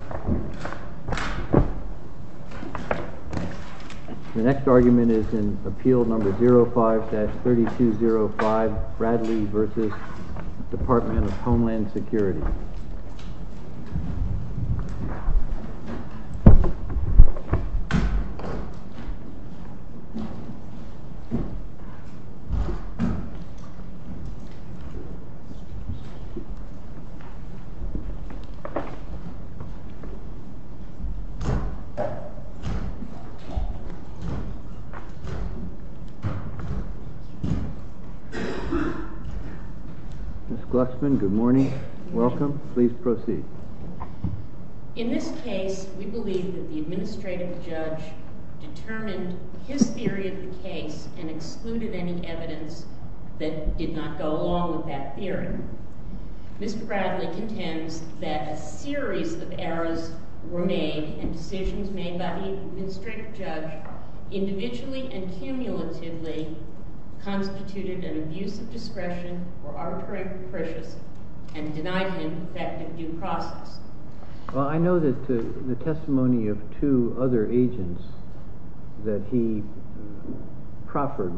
The next argument is in Appeal No. 05-3205, Bradley v. Department of Homeland Security. In this case, we believe that the Administrative Judge determined his theory of the case and excluded any evidence that did not go along with that theory. Mr. Bradley contends that a series of errors were made and decisions made by the Administrative Judge individually and cumulatively constituted an abuse of discretion or arbitrary prejudice and denied him effective due process. I know that the testimony of two other agents that he proffered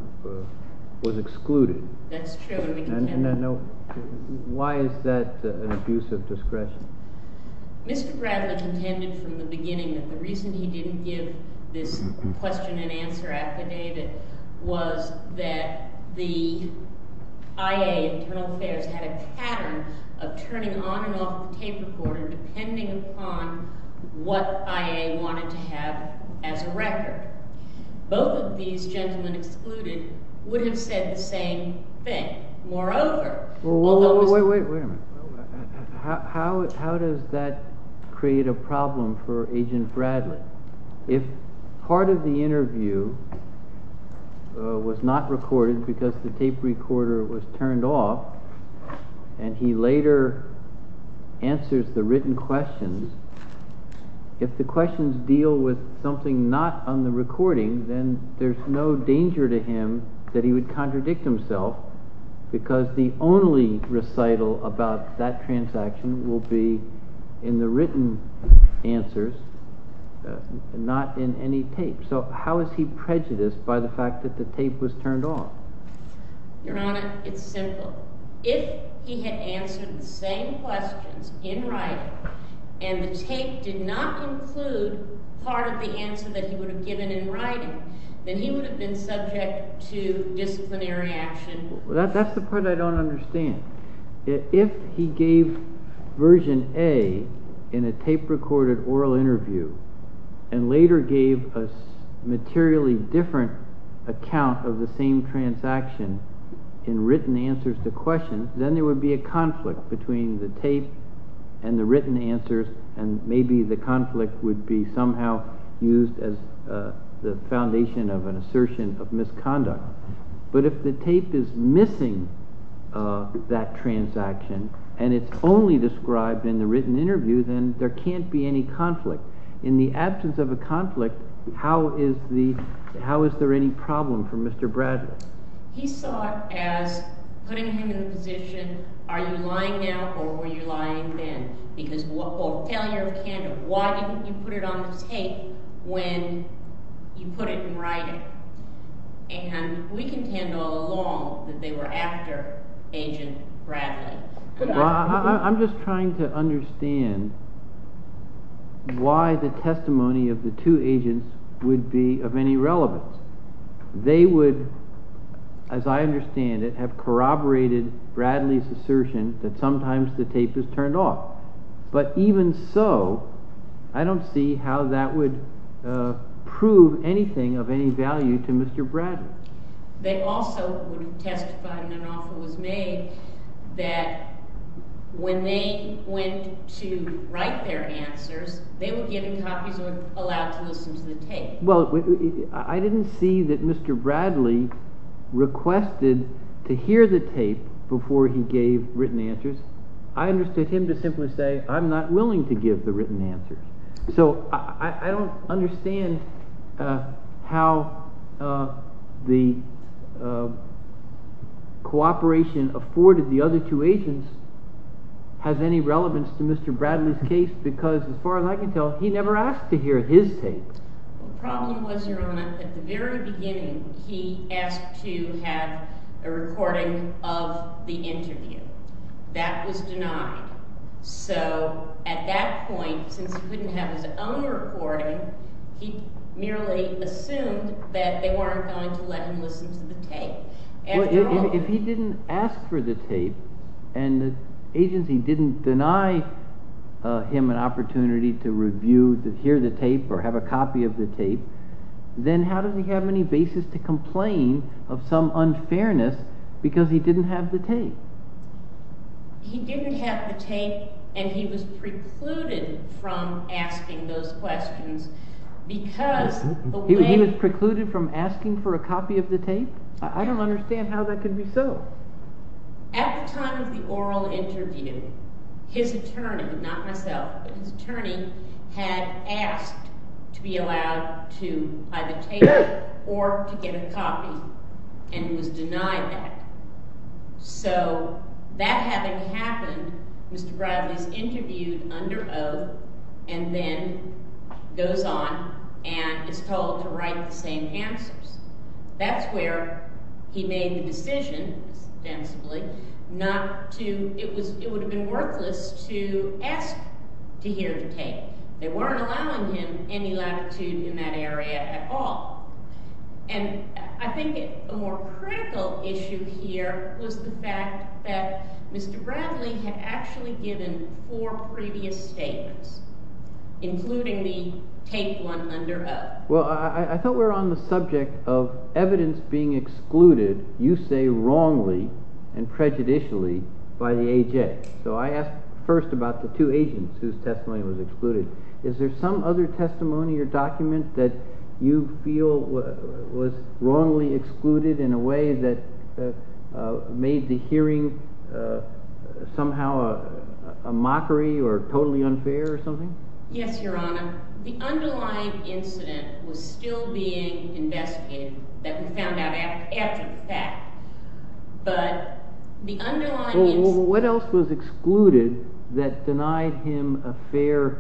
was excluded. That's true. Why is that an abuse of discretion? Mr. Bradley contended from the beginning that the reason he didn't give this question and answer affidavit was that the IA, Internal Affairs, had a pattern of turning on and off the tape recorder depending upon what IA wanted to have as a record. Both of these gentlemen excluded would have said the same thing. Wait a minute. How does that create a problem for Agent Bradley? If part of the interview was not recorded because the tape recorder was turned off and he later answers the written questions, if the questions deal with something not on the recording, then there's no danger to him that he would contradict himself because the only recital about that transaction will be in the written answers. Not in any tape. So how is he prejudiced by the fact that the tape was turned off? Your Honor, it's simple. If he had answered the same questions in writing and the tape did not include part of the answer that he would have given in writing, then he would have been subject to disciplinary action. That's the part I don't understand. If he gave version A in a tape-recorded oral interview and later gave a materially different account of the same transaction in written answers to questions, then there would be a conflict between the tape and the written answers, and maybe the conflict would be somehow used as the foundation of an assertion of misconduct. But if the tape is missing that transaction and it's only described in the written interview, then there can't be any conflict. In the absence of a conflict, how is there any problem for Mr. Bradley? He saw it as putting him in the position, are you lying now or were you lying then? Because, quote, failure of candor. Why didn't you put it on the tape when you put it in writing? And we contend all along that they were after Agent Bradley. I'm just trying to understand why the testimony of the two agents would be of any relevance. They would, as I understand it, have corroborated Bradley's assertion that sometimes the tape is turned off. But even so, I don't see how that would prove anything of any value to Mr. Bradley. They also testified in an offer that was made that when they went to write their answers, they were given copies or allowed to listen to the tape. Well, I didn't see that Mr. Bradley requested to hear the tape before he gave written answers. I understood him to simply say, I'm not willing to give the written answer. So I don't understand how the cooperation afforded the other two agents has any relevance to Mr. Bradley's case because, as far as I can tell, he never asked to hear his tape. The problem was, Your Honor, at the very beginning, he asked to have a recording of the interview. That was denied. So at that point, since he wouldn't have his own recording, he merely assumed that they weren't going to let him listen to the tape. If he didn't ask for the tape and the agency didn't deny him an opportunity to review, to hear the tape, or have a copy of the tape, then how does he have any basis to complain of some unfairness because he didn't have the tape? He didn't have the tape and he was precluded from asking those questions. He was precluded from asking for a copy of the tape? I don't understand how that could be so. At the time of the oral interview, his attorney, not myself, but his attorney had asked to be allowed to either take or to get a copy and was denied that. So, that having happened, Mr. Bradley is interviewed under oath and then goes on and is told to write the same answers. That's where he made the decision, ostensibly, not to, it would have been worthless to ask to hear the tape. They weren't allowing him any latitude in that area at all. I think a more critical issue here was the fact that Mr. Bradley had actually given four previous statements, including the tape one under oath. Well, I thought we were on the subject of evidence being excluded, you say wrongly and prejudicially, by the AJ. So, I asked first about the two agents whose testimony was excluded. Is there some other testimony or document that you feel was wrongly excluded in a way that made the hearing somehow a mockery or totally unfair or something? Yes, Your Honor. The underlying incident was still being investigated, that we found out after the fact. What else was excluded that denied him a fair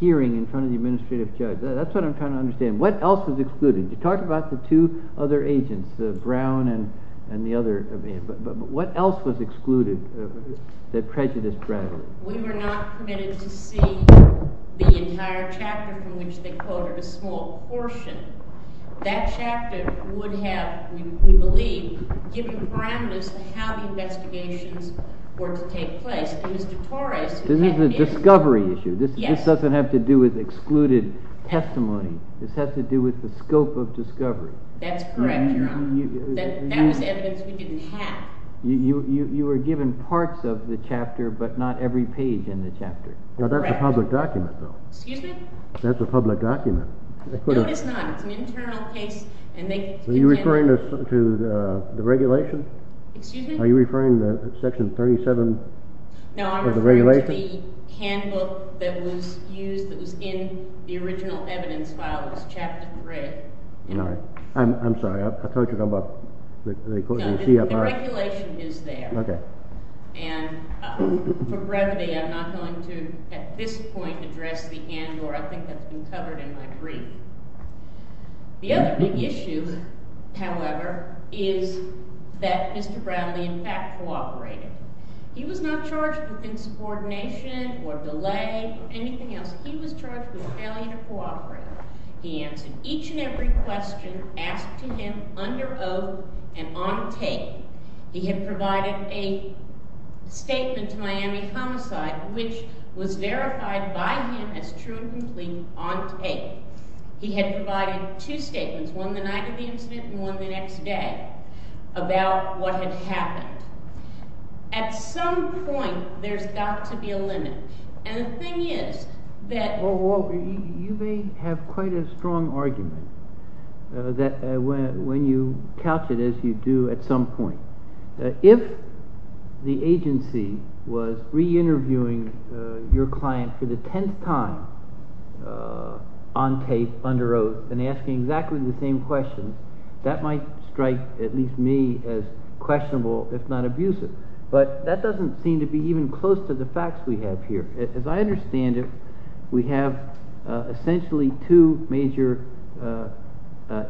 hearing in front of the administrative judge? That's what I'm trying to understand. What else was excluded? You talked about the two other agents, the Brown and the other, but what else was excluded that prejudiced Bradley? We were not permitted to see the entire chapter from which they quoted a small portion. That chapter would have, we believe, given parameters to how the investigations were to take place. This is a discovery issue. This doesn't have to do with excluded testimony. This has to do with the scope of discovery. That's correct, Your Honor. That was evidence we didn't have. You were given parts of the chapter, but not every page in the chapter. That's a public document, though. Excuse me? That's a public document. No, it's not. It's an internal case. Are you referring to the regulation? Excuse me? Are you referring to Section 37 of the regulation? No, I'm referring to the handbook that was used, that was in the original evidence file, which is Chapter 3. I'm sorry. I thought you were talking about the CFR. The regulation is there, and for brevity, I'm not going to, at this point, address the handbook. I think that's been covered in my brief. The other big issue, however, is that Mr. Bradley, in fact, cooperated. He was not charged with insubordination or delay or anything else. He was charged with failing to cooperate. He answered each and every question asked to him under oath and on tape. He had provided a statement to Miami Homicide, which was verified by him as true and complete, on tape. He had provided two statements, one the night of the incident and one the next day, about what had happened. At some point, there's got to be a limit. And the thing is that— You may have quite a strong argument when you couch it, as you do at some point. If the agency was reinterviewing your client for the tenth time on tape, under oath, and asking exactly the same question, that might strike at least me as questionable, if not abusive. But that doesn't seem to be even close to the facts we have here. As I understand it, we have essentially two major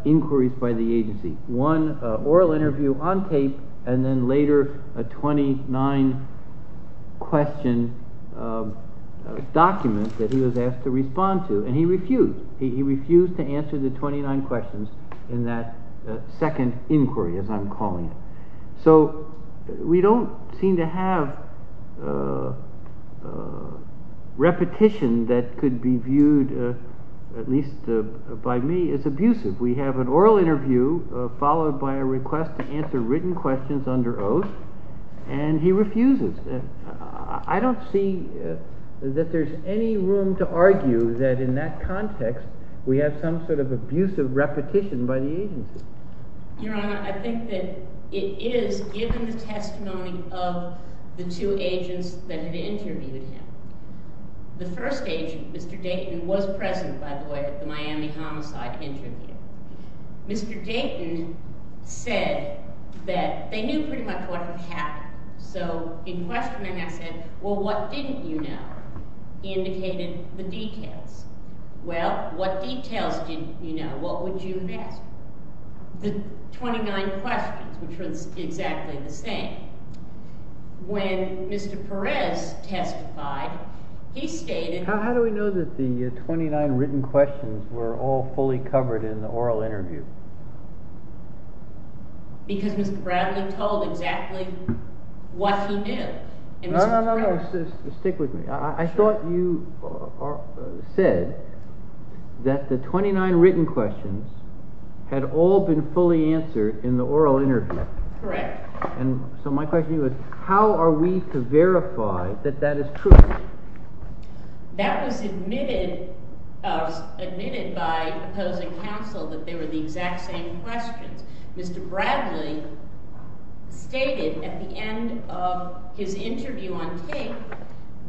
inquiries by the agency. One, an oral interview on tape, and then later a 29-question document that he was asked to respond to, and he refused. He refused to answer the 29 questions in that second inquiry, as I'm calling it. So we don't seem to have repetition that could be viewed, at least by me, as abusive. We have an oral interview, followed by a request to answer written questions under oath, and he refuses. I don't see that there's any room to argue that, in that context, we have some sort of abusive repetition by the agency. Your Honor, I think that it is given the testimony of the two agents that had interviewed him. The first agent, Mr. Dayton, was present, by the way, at the Miami homicide interview. Mr. Dayton said that they knew pretty much what had happened. So in questioning, I said, well, what didn't you know? He indicated the details. Well, what details didn't you know? What would you have asked? The 29 questions, which were exactly the same. When Mr. Perez testified, he stated— How do we know that the 29 written questions were all fully covered in the oral interview? Because Mr. Bradley told exactly what he knew. No, no, no, stick with me. I thought you said that the 29 written questions had all been fully answered in the oral interview. Correct. So my question to you is, how are we to verify that that is true? That was admitted by opposing counsel, that they were the exact same questions. Mr. Bradley stated at the end of his interview on tape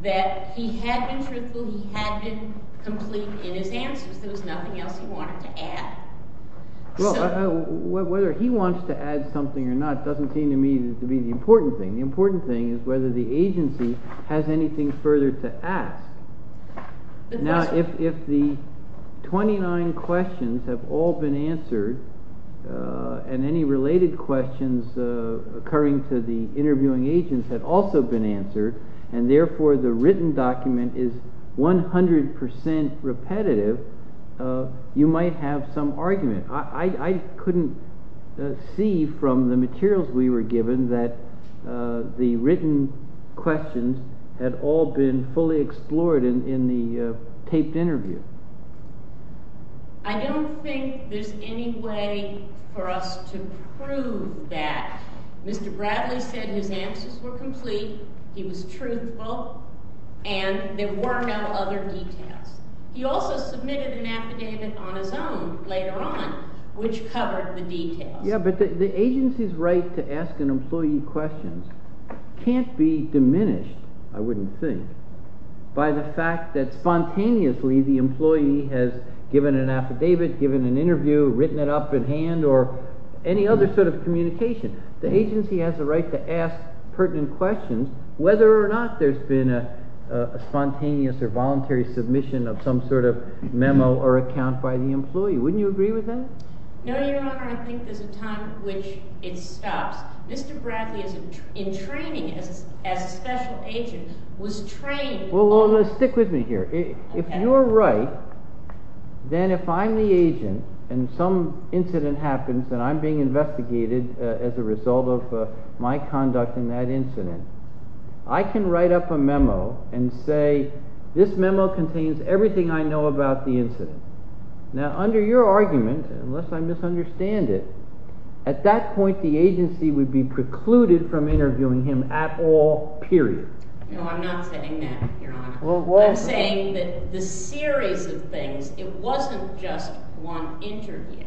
that he had been truthful, he had been complete in his answers. There was nothing else he wanted to add. Well, whether he wants to add something or not doesn't seem to me to be the important thing. The important thing is whether the agency has anything further to ask. Now, if the 29 questions have all been answered, and any related questions occurring to the interviewing agents had also been answered, and therefore the written document is 100% repetitive, you might have some argument. I couldn't see from the materials we were given that the written questions had all been fully explored in the taped interview. I don't think there's any way for us to prove that. Mr. Bradley said his answers were complete, he was truthful, and there were no other details. He also submitted an affidavit on his own later on, which covered the details. Yeah, but the agency's right to ask an employee questions can't be diminished, I wouldn't think, by the fact that spontaneously the employee has given an affidavit, given an interview, written it up in hand, or any other sort of communication. The agency has the right to ask pertinent questions, whether or not there's been a spontaneous or voluntary submission of some sort of memo or account by the employee. Wouldn't you agree with that? No, Your Honor, I think there's a time at which it stops. Mr. Bradley, in training as a special agent, was trained... ...as a result of my conduct in that incident, I can write up a memo and say, this memo contains everything I know about the incident. Now, under your argument, unless I misunderstand it, at that point the agency would be precluded from interviewing him at all, period. No, I'm not saying that, Your Honor. I'm saying that the series of things, it wasn't just one interview.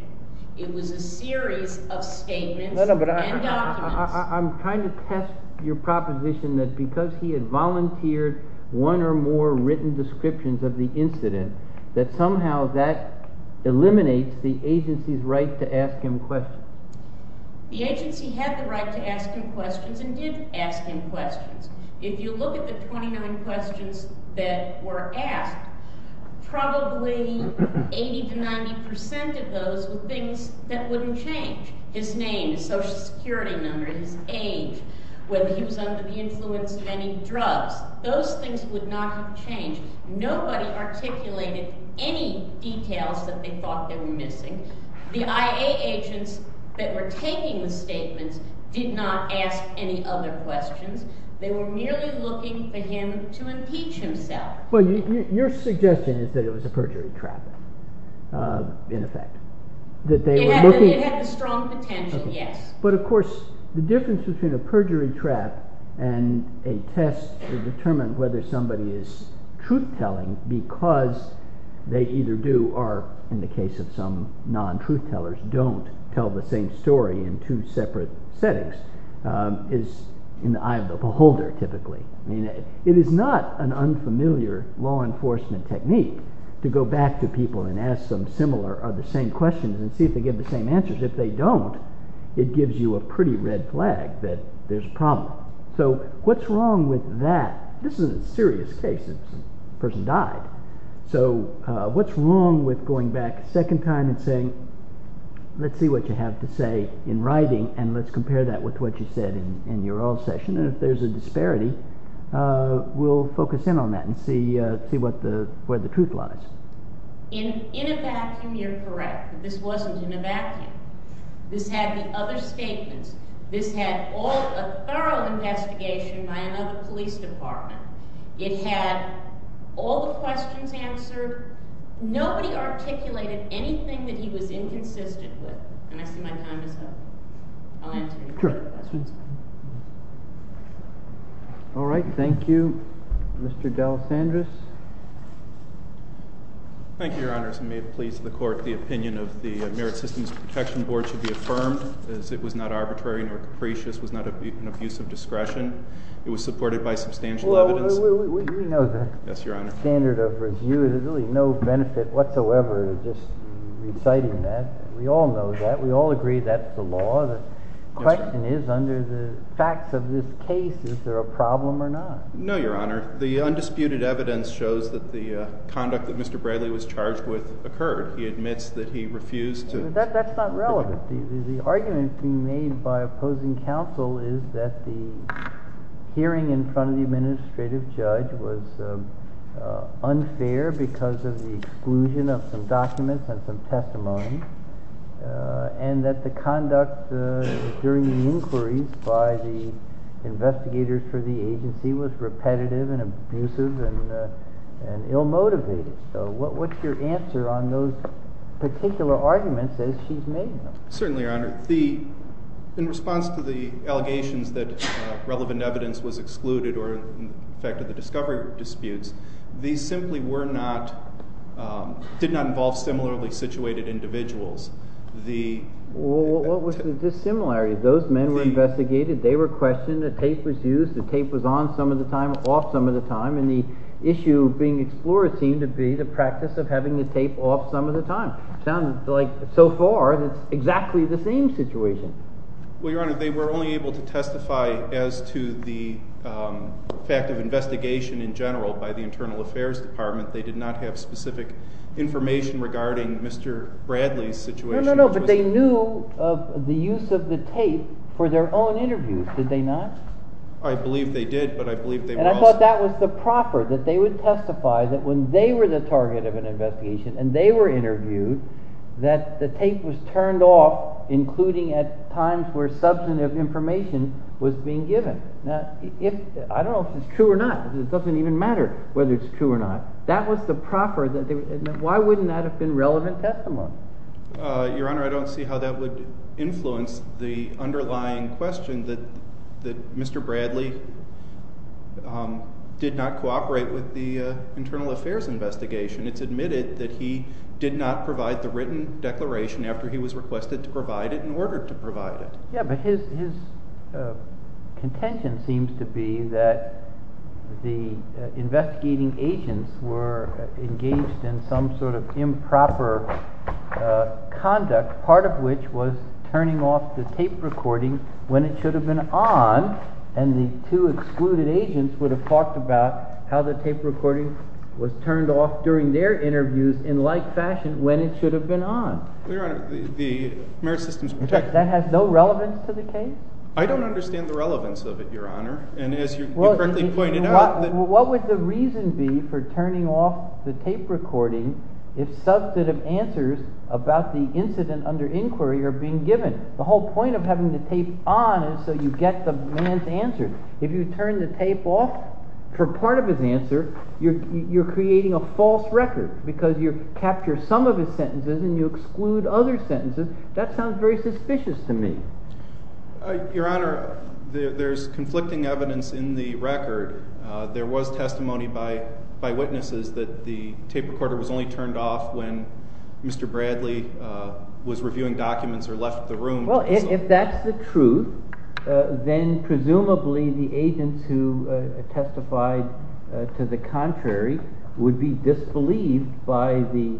It was a series of statements and documents. I'm trying to test your proposition that because he had volunteered one or more written descriptions of the incident, that somehow that eliminates the agency's right to ask him questions. The agency had the right to ask him questions and did ask him questions. If you look at the 29 questions that were asked, probably 80 to 90% of those were things that wouldn't change. His name, his social security number, his age, whether he was under the influence of any drugs. Those things would not change. Nobody articulated any details that they thought they were missing. The IA agents that were taking the statements did not ask any other questions. They were merely looking for him to impeach himself. Well, your suggestion is that it was a perjury trap, in effect. It had the strong potential, yes. But, of course, the difference between a perjury trap and a test to determine whether somebody is truth-telling because they either do or, in the case of some non-truth-tellers, don't tell the same story in two separate settings, is in the eye of the beholder, typically. It is not an unfamiliar law enforcement technique to go back to people and ask them similar or the same questions and see if they give the same answers. If they don't, it gives you a pretty red flag that there's a problem. So what's wrong with that? This is a serious case. This person died. So what's wrong with going back a second time and saying, let's see what you have to say in writing and let's compare that with what you said in your oral session? If there's a disparity, we'll focus in on that and see where the truth lies. In a vacuum, you're correct. This wasn't in a vacuum. This had the other statements. This had a thorough investigation by another police department. It had all the questions answered. Nobody articulated anything that he was inconsistent with. And I see my time is up. I'll answer your questions. All right. Thank you. Mr. D'Alessandris? Thank you, Your Honors. And may it please the Court, the opinion of the Merit Systems Protection Board should be affirmed as it was not arbitrary nor capricious, was not an abuse of discretion. It was supported by substantial evidence. Well, we know the standard of review. There's really no benefit whatsoever to just reciting that. We all know that. We all agree that's the law. The question is, under the facts of this case, is there a problem or not? No, Your Honor. The undisputed evidence shows that the conduct that Mr. Bradley was charged with occurred. He admits that he refused to— That's not relevant. The argument being made by opposing counsel is that the hearing in front of the administrative judge was unfair because of the exclusion of some documents and some testimony, and that the conduct during the inquiries by the investigators for the agency was repetitive and abusive and ill-motivated. So what's your answer on those particular arguments as she's made them? Certainly, Your Honor. In response to the allegations that relevant evidence was excluded or affected the discovery disputes, these simply did not involve similarly situated individuals. What was the dissimilarity? Those men were investigated. They were questioned. The tape was used. The tape was on some of the time, off some of the time. And the issue being explored seemed to be the practice of having the tape off some of the time. It sounds like, so far, it's exactly the same situation. Well, Your Honor, they were only able to testify as to the fact of investigation in general by the Internal Affairs Department. They did not have specific information regarding Mr. Bradley's situation. No, no, no. But they knew of the use of the tape for their own interviews, did they not? I believe they did, but I believe they were also— I thought that was the proper, that they would testify that when they were the target of an investigation and they were interviewed, that the tape was turned off, including at times where substantive information was being given. Now, I don't know if it's true or not. It doesn't even matter whether it's true or not. That was the proper. Why wouldn't that have been relevant testimony? Your Honor, I don't see how that would influence the underlying question that Mr. Bradley did not cooperate with the Internal Affairs investigation. It's admitted that he did not provide the written declaration after he was requested to provide it and ordered to provide it. Yeah, but his contention seems to be that the investigating agents were engaged in some sort of improper conduct, part of which was turning off the tape recording when it should have been on. And the two excluded agents would have talked about how the tape recording was turned off during their interviews in like fashion when it should have been on. Your Honor, the merit system is protected. That has no relevance to the case? I don't understand the relevance of it, Your Honor. And as you correctly pointed out— What would the reason be for turning off the tape recording if substantive answers about the incident under inquiry are being given? The whole point of having the tape on is so you get the man's answer. If you turn the tape off for part of his answer, you're creating a false record because you capture some of his sentences and you exclude other sentences. That sounds very suspicious to me. Your Honor, there's conflicting evidence in the record. There was testimony by witnesses that the tape recorder was only turned off when Mr. Bradley was reviewing documents or left the room. Well, if that's the truth, then presumably the agents who testified to the contrary would be disbelieved by the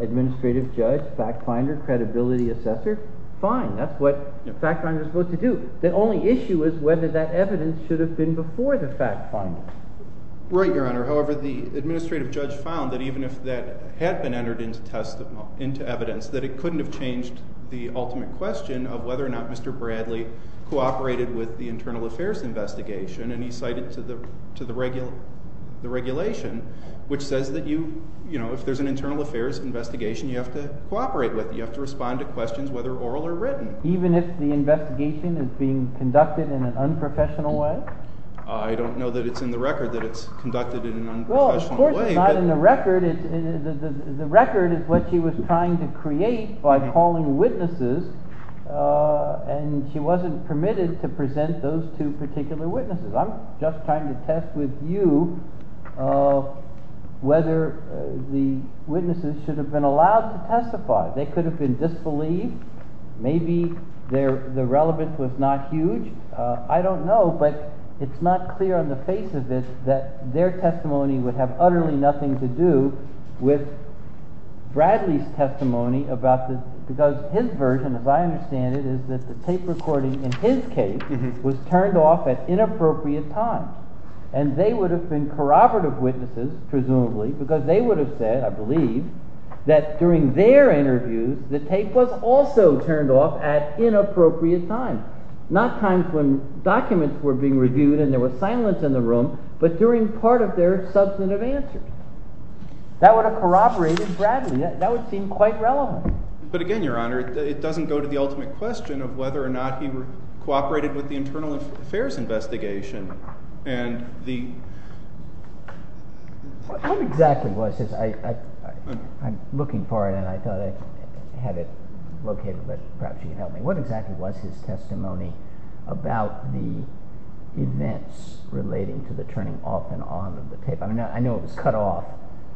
administrative judge, fact finder, credibility assessor. Fine. That's what fact finders are supposed to do. The only issue is whether that evidence should have been before the fact finder. Right, Your Honor. However, the administrative judge found that even if that had been entered into evidence, that it couldn't have changed the ultimate question of whether or not Mr. Bradley cooperated with the internal affairs investigation. And he cited to the regulation, which says that if there's an internal affairs investigation, you have to cooperate with it. You have to respond to questions whether oral or written. Even if the investigation is being conducted in an unprofessional way? I don't know that it's in the record that it's conducted in an unprofessional way. Well, of course it's not in the record. The record is what she was trying to create by calling witnesses. And she wasn't permitted to present those two particular witnesses. I'm just trying to test with you whether the witnesses should have been allowed to testify. They could have been disbelieved. Maybe the relevance was not huge. I don't know, but it's not clear on the face of it that their testimony would have utterly nothing to do with Bradley's testimony. Because his version, as I understand it, is that the tape recording in his case was turned off at inappropriate times. And they would have been corroborative witnesses, presumably, because they would have said, I believe, that during their interviews, the tape was also turned off at inappropriate times. Not times when documents were being reviewed and there was silence in the room, but during part of their substantive answers. That would have corroborated Bradley. That would seem quite relevant. But again, Your Honor, it doesn't go to the ultimate question of whether or not he cooperated with the internal affairs investigation. What exactly was his testimony about the events relating to the turning off and on of the tape? I know it was cut off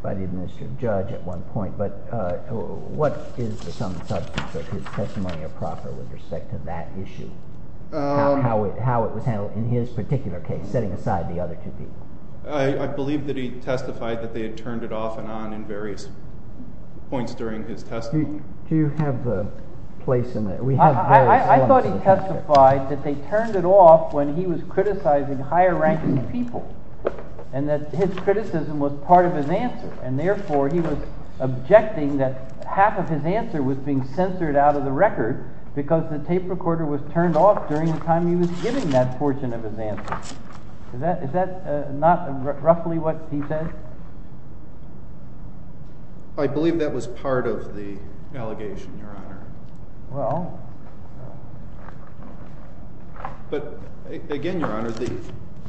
by the administrative judge at one point. But what is the substance of his testimony of proper with respect to that issue? How it was handled in his particular case, setting aside the other two people. I believe that he testified that they had turned it off and on in various points during his testimony. Do you have the place in that? I thought he testified that they turned it off when he was criticizing higher ranking people, and that his criticism was part of his answer. And therefore, he was objecting that half of his answer was being censored out of the record because the tape recorder was turned off during the time he was giving that portion of his answer. Is that not roughly what he said? I believe that was part of the allegation, Your Honor. But again, Your Honor,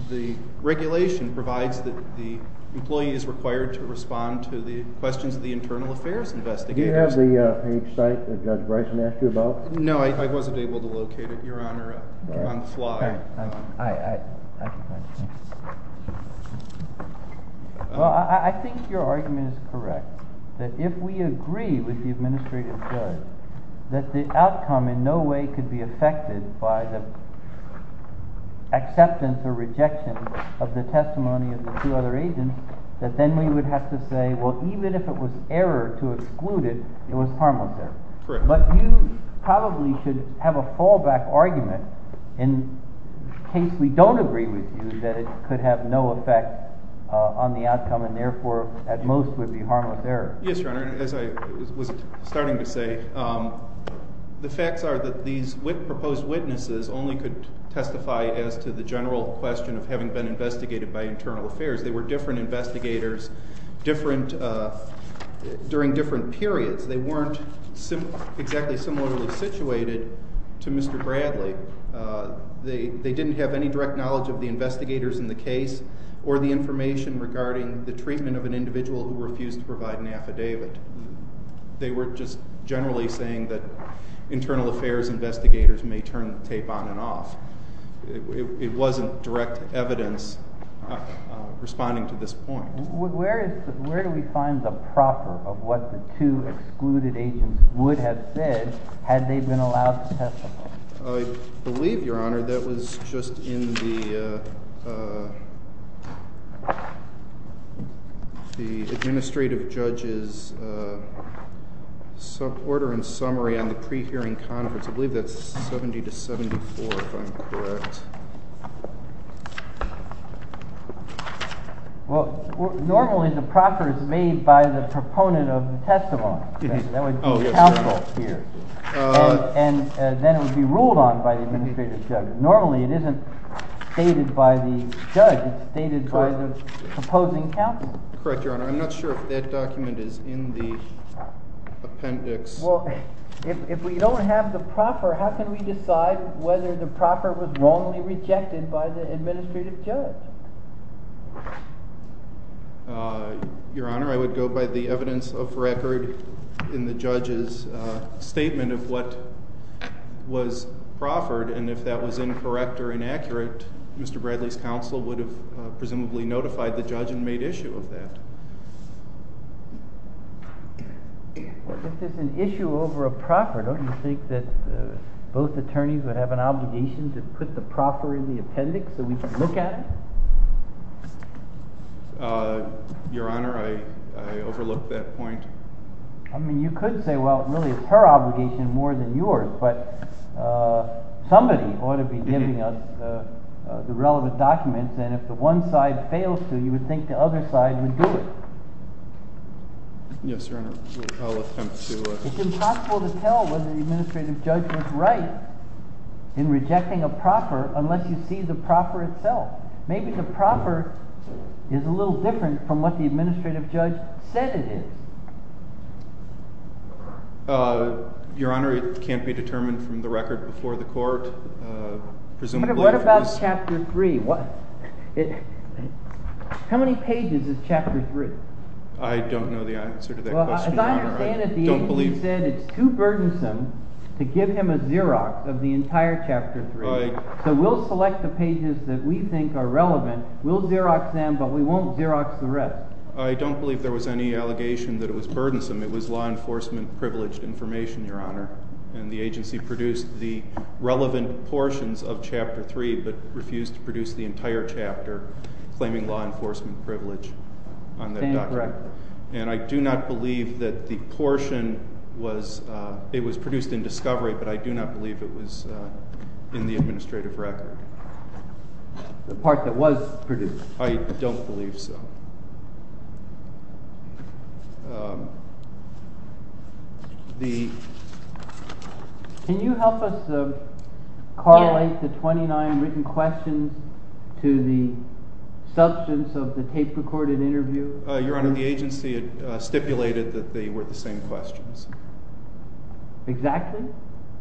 the regulation provides that the employee is required to respond to the questions of the internal affairs investigators. Do you have the page site that Judge Bryson asked you about? No, I wasn't able to locate it, Your Honor, on the fly. Well, I think your argument is correct, that if we agree with the administrative judge that the outcome in no way could be affected by the acceptance or rejection of the testimony of the two other agents, that then we would have to say, well, even if it was error to exclude it, it was harmless there. But you probably should have a fallback argument in case we don't agree with you that it could have no effect on the outcome and therefore, at most, would be harmless there. Yes, Your Honor. As I was starting to say, the facts are that these proposed witnesses only could testify as to the general question of having been investigated by internal affairs. They were different investigators during different periods. They weren't exactly similarly situated to Mr. Bradley. They didn't have any direct knowledge of the investigators in the case or the information regarding the treatment of an individual who refused to provide an affidavit. They were just generally saying that internal affairs investigators may turn the tape on and off. It wasn't direct evidence responding to this point. Where do we find the proper of what the two excluded agents would have said had they been allowed to testify? I believe, Your Honor, that was just in the administrative judge's order and summary on the pre-hearing conference. I believe that's 70 to 74, if I'm correct. Well, normally the proper is made by the proponent of the testimony. That would be counsel here. And then it would be ruled on by the administrative judge. Normally, it isn't stated by the judge. It's stated by the proposing counsel. Correct, Your Honor. I'm not sure if that document is in the appendix. Well, if we don't have the proper, how can we decide whether the proper was wrongly rejected by the administrative judge? Your Honor, I would go by the evidence of record in the judge's statement of what was proffered. And if that was incorrect or inaccurate, Mr. Bradley's counsel would have presumably notified the judge and made issue of that. This is an issue over a proper. Don't you think that both attorneys would have an obligation to put the proper in the appendix so we could look at it? Your Honor, I overlook that point. I mean, you could say, well, it really is her obligation more than yours. But somebody ought to be giving us the relevant documents. And if the one side fails to, you would think the other side would do it. Yes, Your Honor. It's impossible to tell whether the administrative judge was right in rejecting a proper unless you see the proper itself. Maybe the proper is a little different from what the administrative judge said it is. Your Honor, it can't be determined from the record before the court. What about Chapter 3? How many pages is Chapter 3? I don't know the answer to that question, Your Honor. As I understand it, the agency said it's too burdensome to give him a Xerox of the entire Chapter 3. So we'll select the pages that we think are relevant. We'll Xerox them, but we won't Xerox the rest. I don't believe there was any allegation that it was burdensome. It was law enforcement privileged information, Your Honor. And the agency produced the relevant portions of Chapter 3 but refused to produce the entire chapter claiming law enforcement privilege on that document. And I do not believe that the portion was produced in discovery, but I do not believe it was in the administrative record. The part that was produced? I don't believe so. Can you help us correlate the 29 written questions to the substance of the tape-recorded interview? Your Honor, the agency stipulated that they were the same questions. Exactly?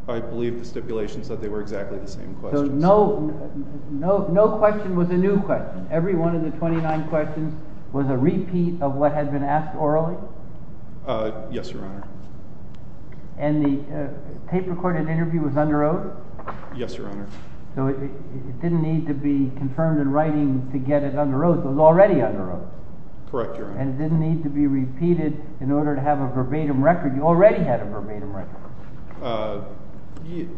I believe the stipulation said they were exactly the same questions. So no question was a new question. Every one of the 29 questions was a repeat of what had been asked orally? Yes, Your Honor. And the tape-recorded interview was under oath? Yes, Your Honor. So it didn't need to be confirmed in writing to get it under oath. It was already under oath. Correct, Your Honor. And it didn't need to be repeated in order to have a verbatim record. You already had a verbatim record.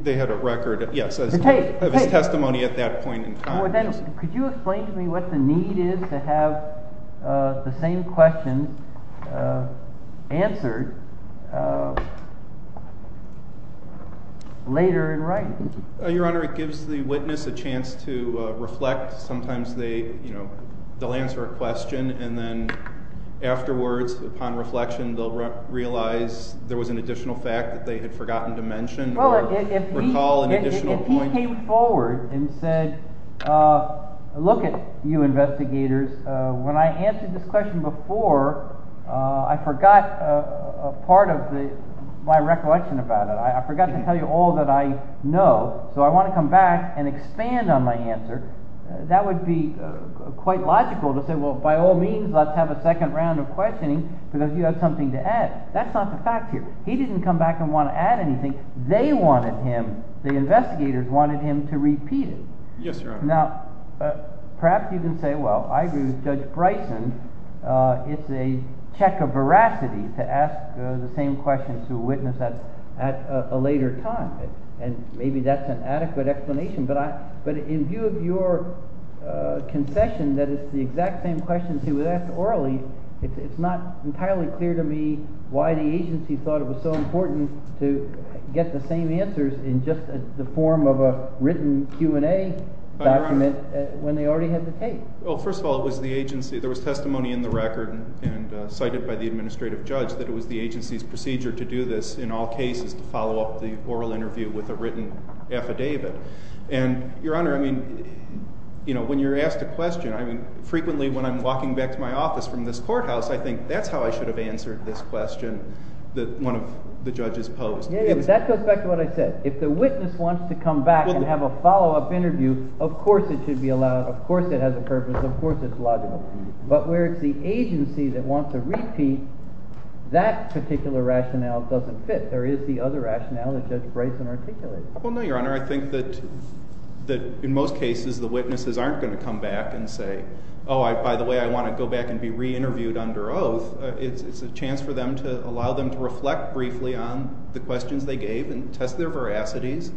They had a record, yes. Of his testimony at that point in time. Could you explain to me what the need is to have the same question answered later in writing? Your Honor, it gives the witness a chance to reflect. Sometimes they'll answer a question and then afterwards, upon reflection, they'll realize there was an additional fact that they had forgotten to mention or recall an additional point. Well, if he came forward and said, look at you investigators, when I answered this question before, I forgot part of my recollection about it. I forgot to tell you all that I know, so I want to come back and expand on my answer. That would be quite logical to say, well, by all means, let's have a second round of questioning because you have something to add. That's not the fact here. He didn't come back and want to add anything. They wanted him, the investigators, wanted him to repeat it. Yes, Your Honor. Now, perhaps you can say, well, I agree with Judge Bryson. It's a check of veracity to ask the same question to a witness at a later time. And maybe that's an adequate explanation, but in view of your concession that it's the exact same questions he was asked orally, it's not entirely clear to me why the agency thought it was so important to get the same answers in just the form of a written Q&A document when they already had the case. Well, first of all, it was the agency. There was testimony in the record and cited by the administrative judge that it was the agency's procedure to do this in all cases to follow up the oral interview with a written affidavit. And, Your Honor, when you're asked a question, frequently when I'm walking back to my office from this courthouse, I think that's how I should have answered this question that one of the judges posed. Yeah, yeah, but that goes back to what I said. If the witness wants to come back and have a follow-up interview, of course it should be allowed. Of course it has a purpose. Of course it's logical. But where it's the agency that wants to repeat, that particular rationale doesn't fit. There is the other rationale that Judge Bryson articulated. Well, no, Your Honor. I think that in most cases the witnesses aren't going to come back and say, oh, by the way, I want to go back and be re-interviewed under oath. It's a chance for them to allow them to reflect briefly on the questions they gave and test their veracities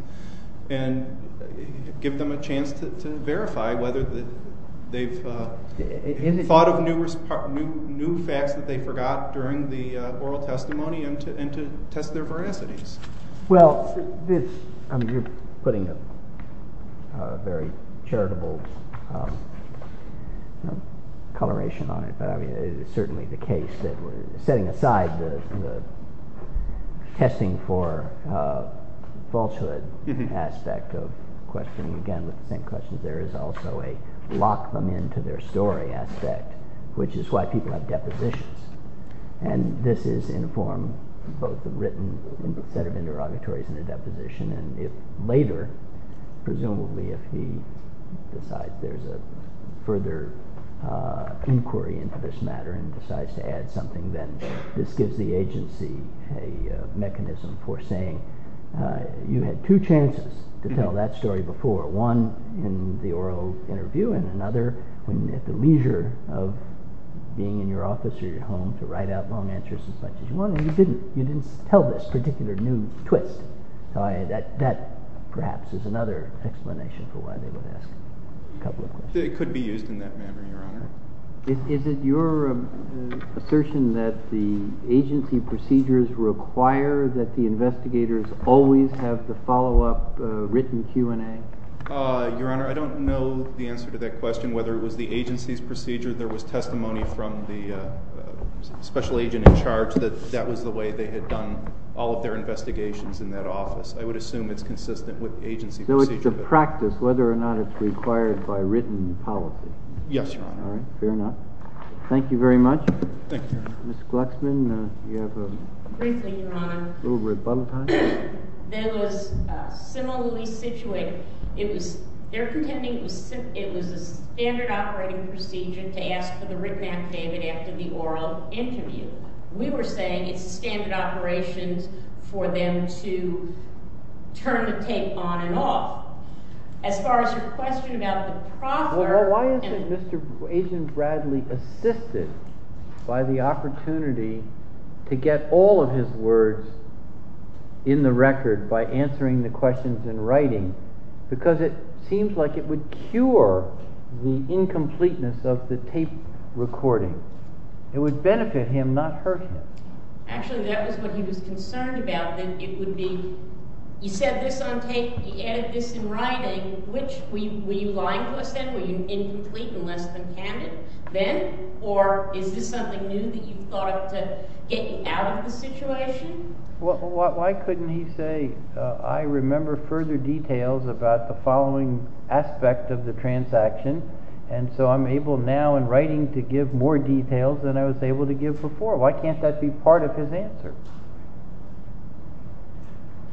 and give them a chance to verify whether they've thought of new facts that they forgot during the oral testimony and to test their veracities. Well, you're putting a very charitable coloration on it, but it's certainly the case that we're setting aside the testing for falsehood aspect of questioning. Again, with the same questions, there is also a lock them into their story aspect, which is why people have depositions. And this is in the form of both a written set of interrogatories and a deposition. And if later, presumably if he decides there's a further inquiry into this matter and decides to add something, then this gives the agency a mechanism for saying, you had two chances to tell that story before. One in the oral interview and another at the leisure of being in your office or your home to write out long answers as much as you wanted. You didn't tell this particular new twist. That perhaps is another explanation for why they would ask a couple of questions. It could be used in that manner, Your Honor. Is it your assertion that the agency procedures require that the investigators always have the follow-up written Q&A? Your Honor, I don't know the answer to that question, whether it was the agency's procedure. There was testimony from the special agent in charge that that was the way they had done all of their investigations in that office. I would assume it's consistent with agency procedure. So it's a practice, whether or not it's required by written policy. Yes, Your Honor. All right, fair enough. Thank you very much. Thank you, Your Honor. Ms. Glucksman, you have a little rebuttal time? Briefly, Your Honor. That was similarly situated. They're pretending it was a standard operating procedure to ask for the written affidavit after the oral interview. We were saying it's standard operations for them to turn the tape on and off. As far as your question about the proper— Why isn't Mr. Agent Bradley assisted by the opportunity to get all of his words in the record by answering the questions in writing? Because it seems like it would cure the incompleteness of the tape recording. It would benefit him, not hurt him. Actually, that was what he was concerned about. You said this on tape. He added this in writing. Were you lying to us then? Were you incomplete and less than candid then? Or is this something new that you thought to get you out of the situation? Why couldn't he say, I remember further details about the following aspect of the transaction, and so I'm able now in writing to give more details than I was able to give before? Why can't that be part of his answer?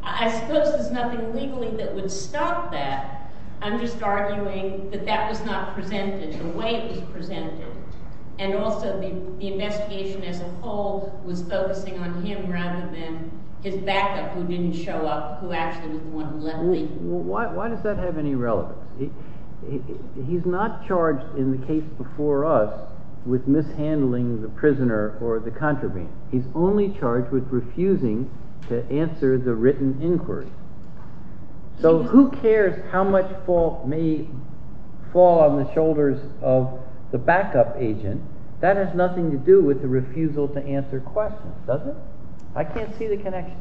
I suppose there's nothing legally that would stop that. I'm just arguing that that was not presented the way it was presented, and also the investigation as a whole was focusing on him rather than his backup who didn't show up, who actually was the one who let me. Why does that have any relevance? He's not charged in the case before us with mishandling the prisoner or the contraband. He's only charged with refusing to answer the written inquiry. So who cares how much fault may fall on the shoulders of the backup agent? That has nothing to do with the refusal to answer questions, does it? I can't see the connection.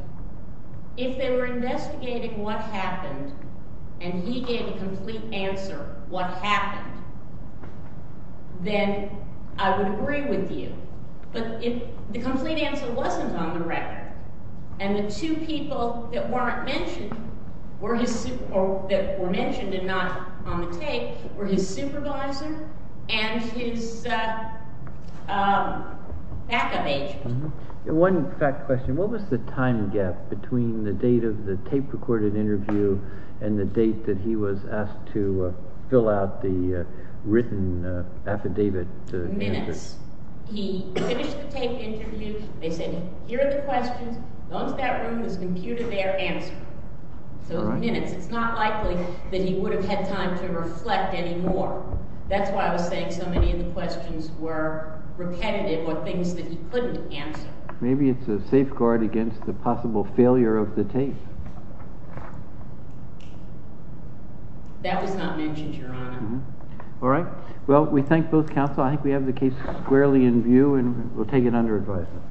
If they were investigating what happened and he gave a complete answer what happened, then I would agree with you. But if the complete answer wasn't on the record and the two people that were mentioned and not on the tape were his supervisor and his backup agent. One fact question. What was the time gap between the date of the tape-recorded interview and the date that he was asked to fill out the written affidavit? Minutes. He finished the tape interview. They said, here are the questions. Go into that room. Let's compute a fair answer. So minutes. It's not likely that he would have had time to reflect anymore. That's why I was saying so many of the questions were repetitive or things that he couldn't answer. Maybe it's a safeguard against the possible failure of the tape. That was not mentioned, Your Honor. All right. Well, we thank both counsel. I think we have the case squarely in view, and we'll take it under advisement.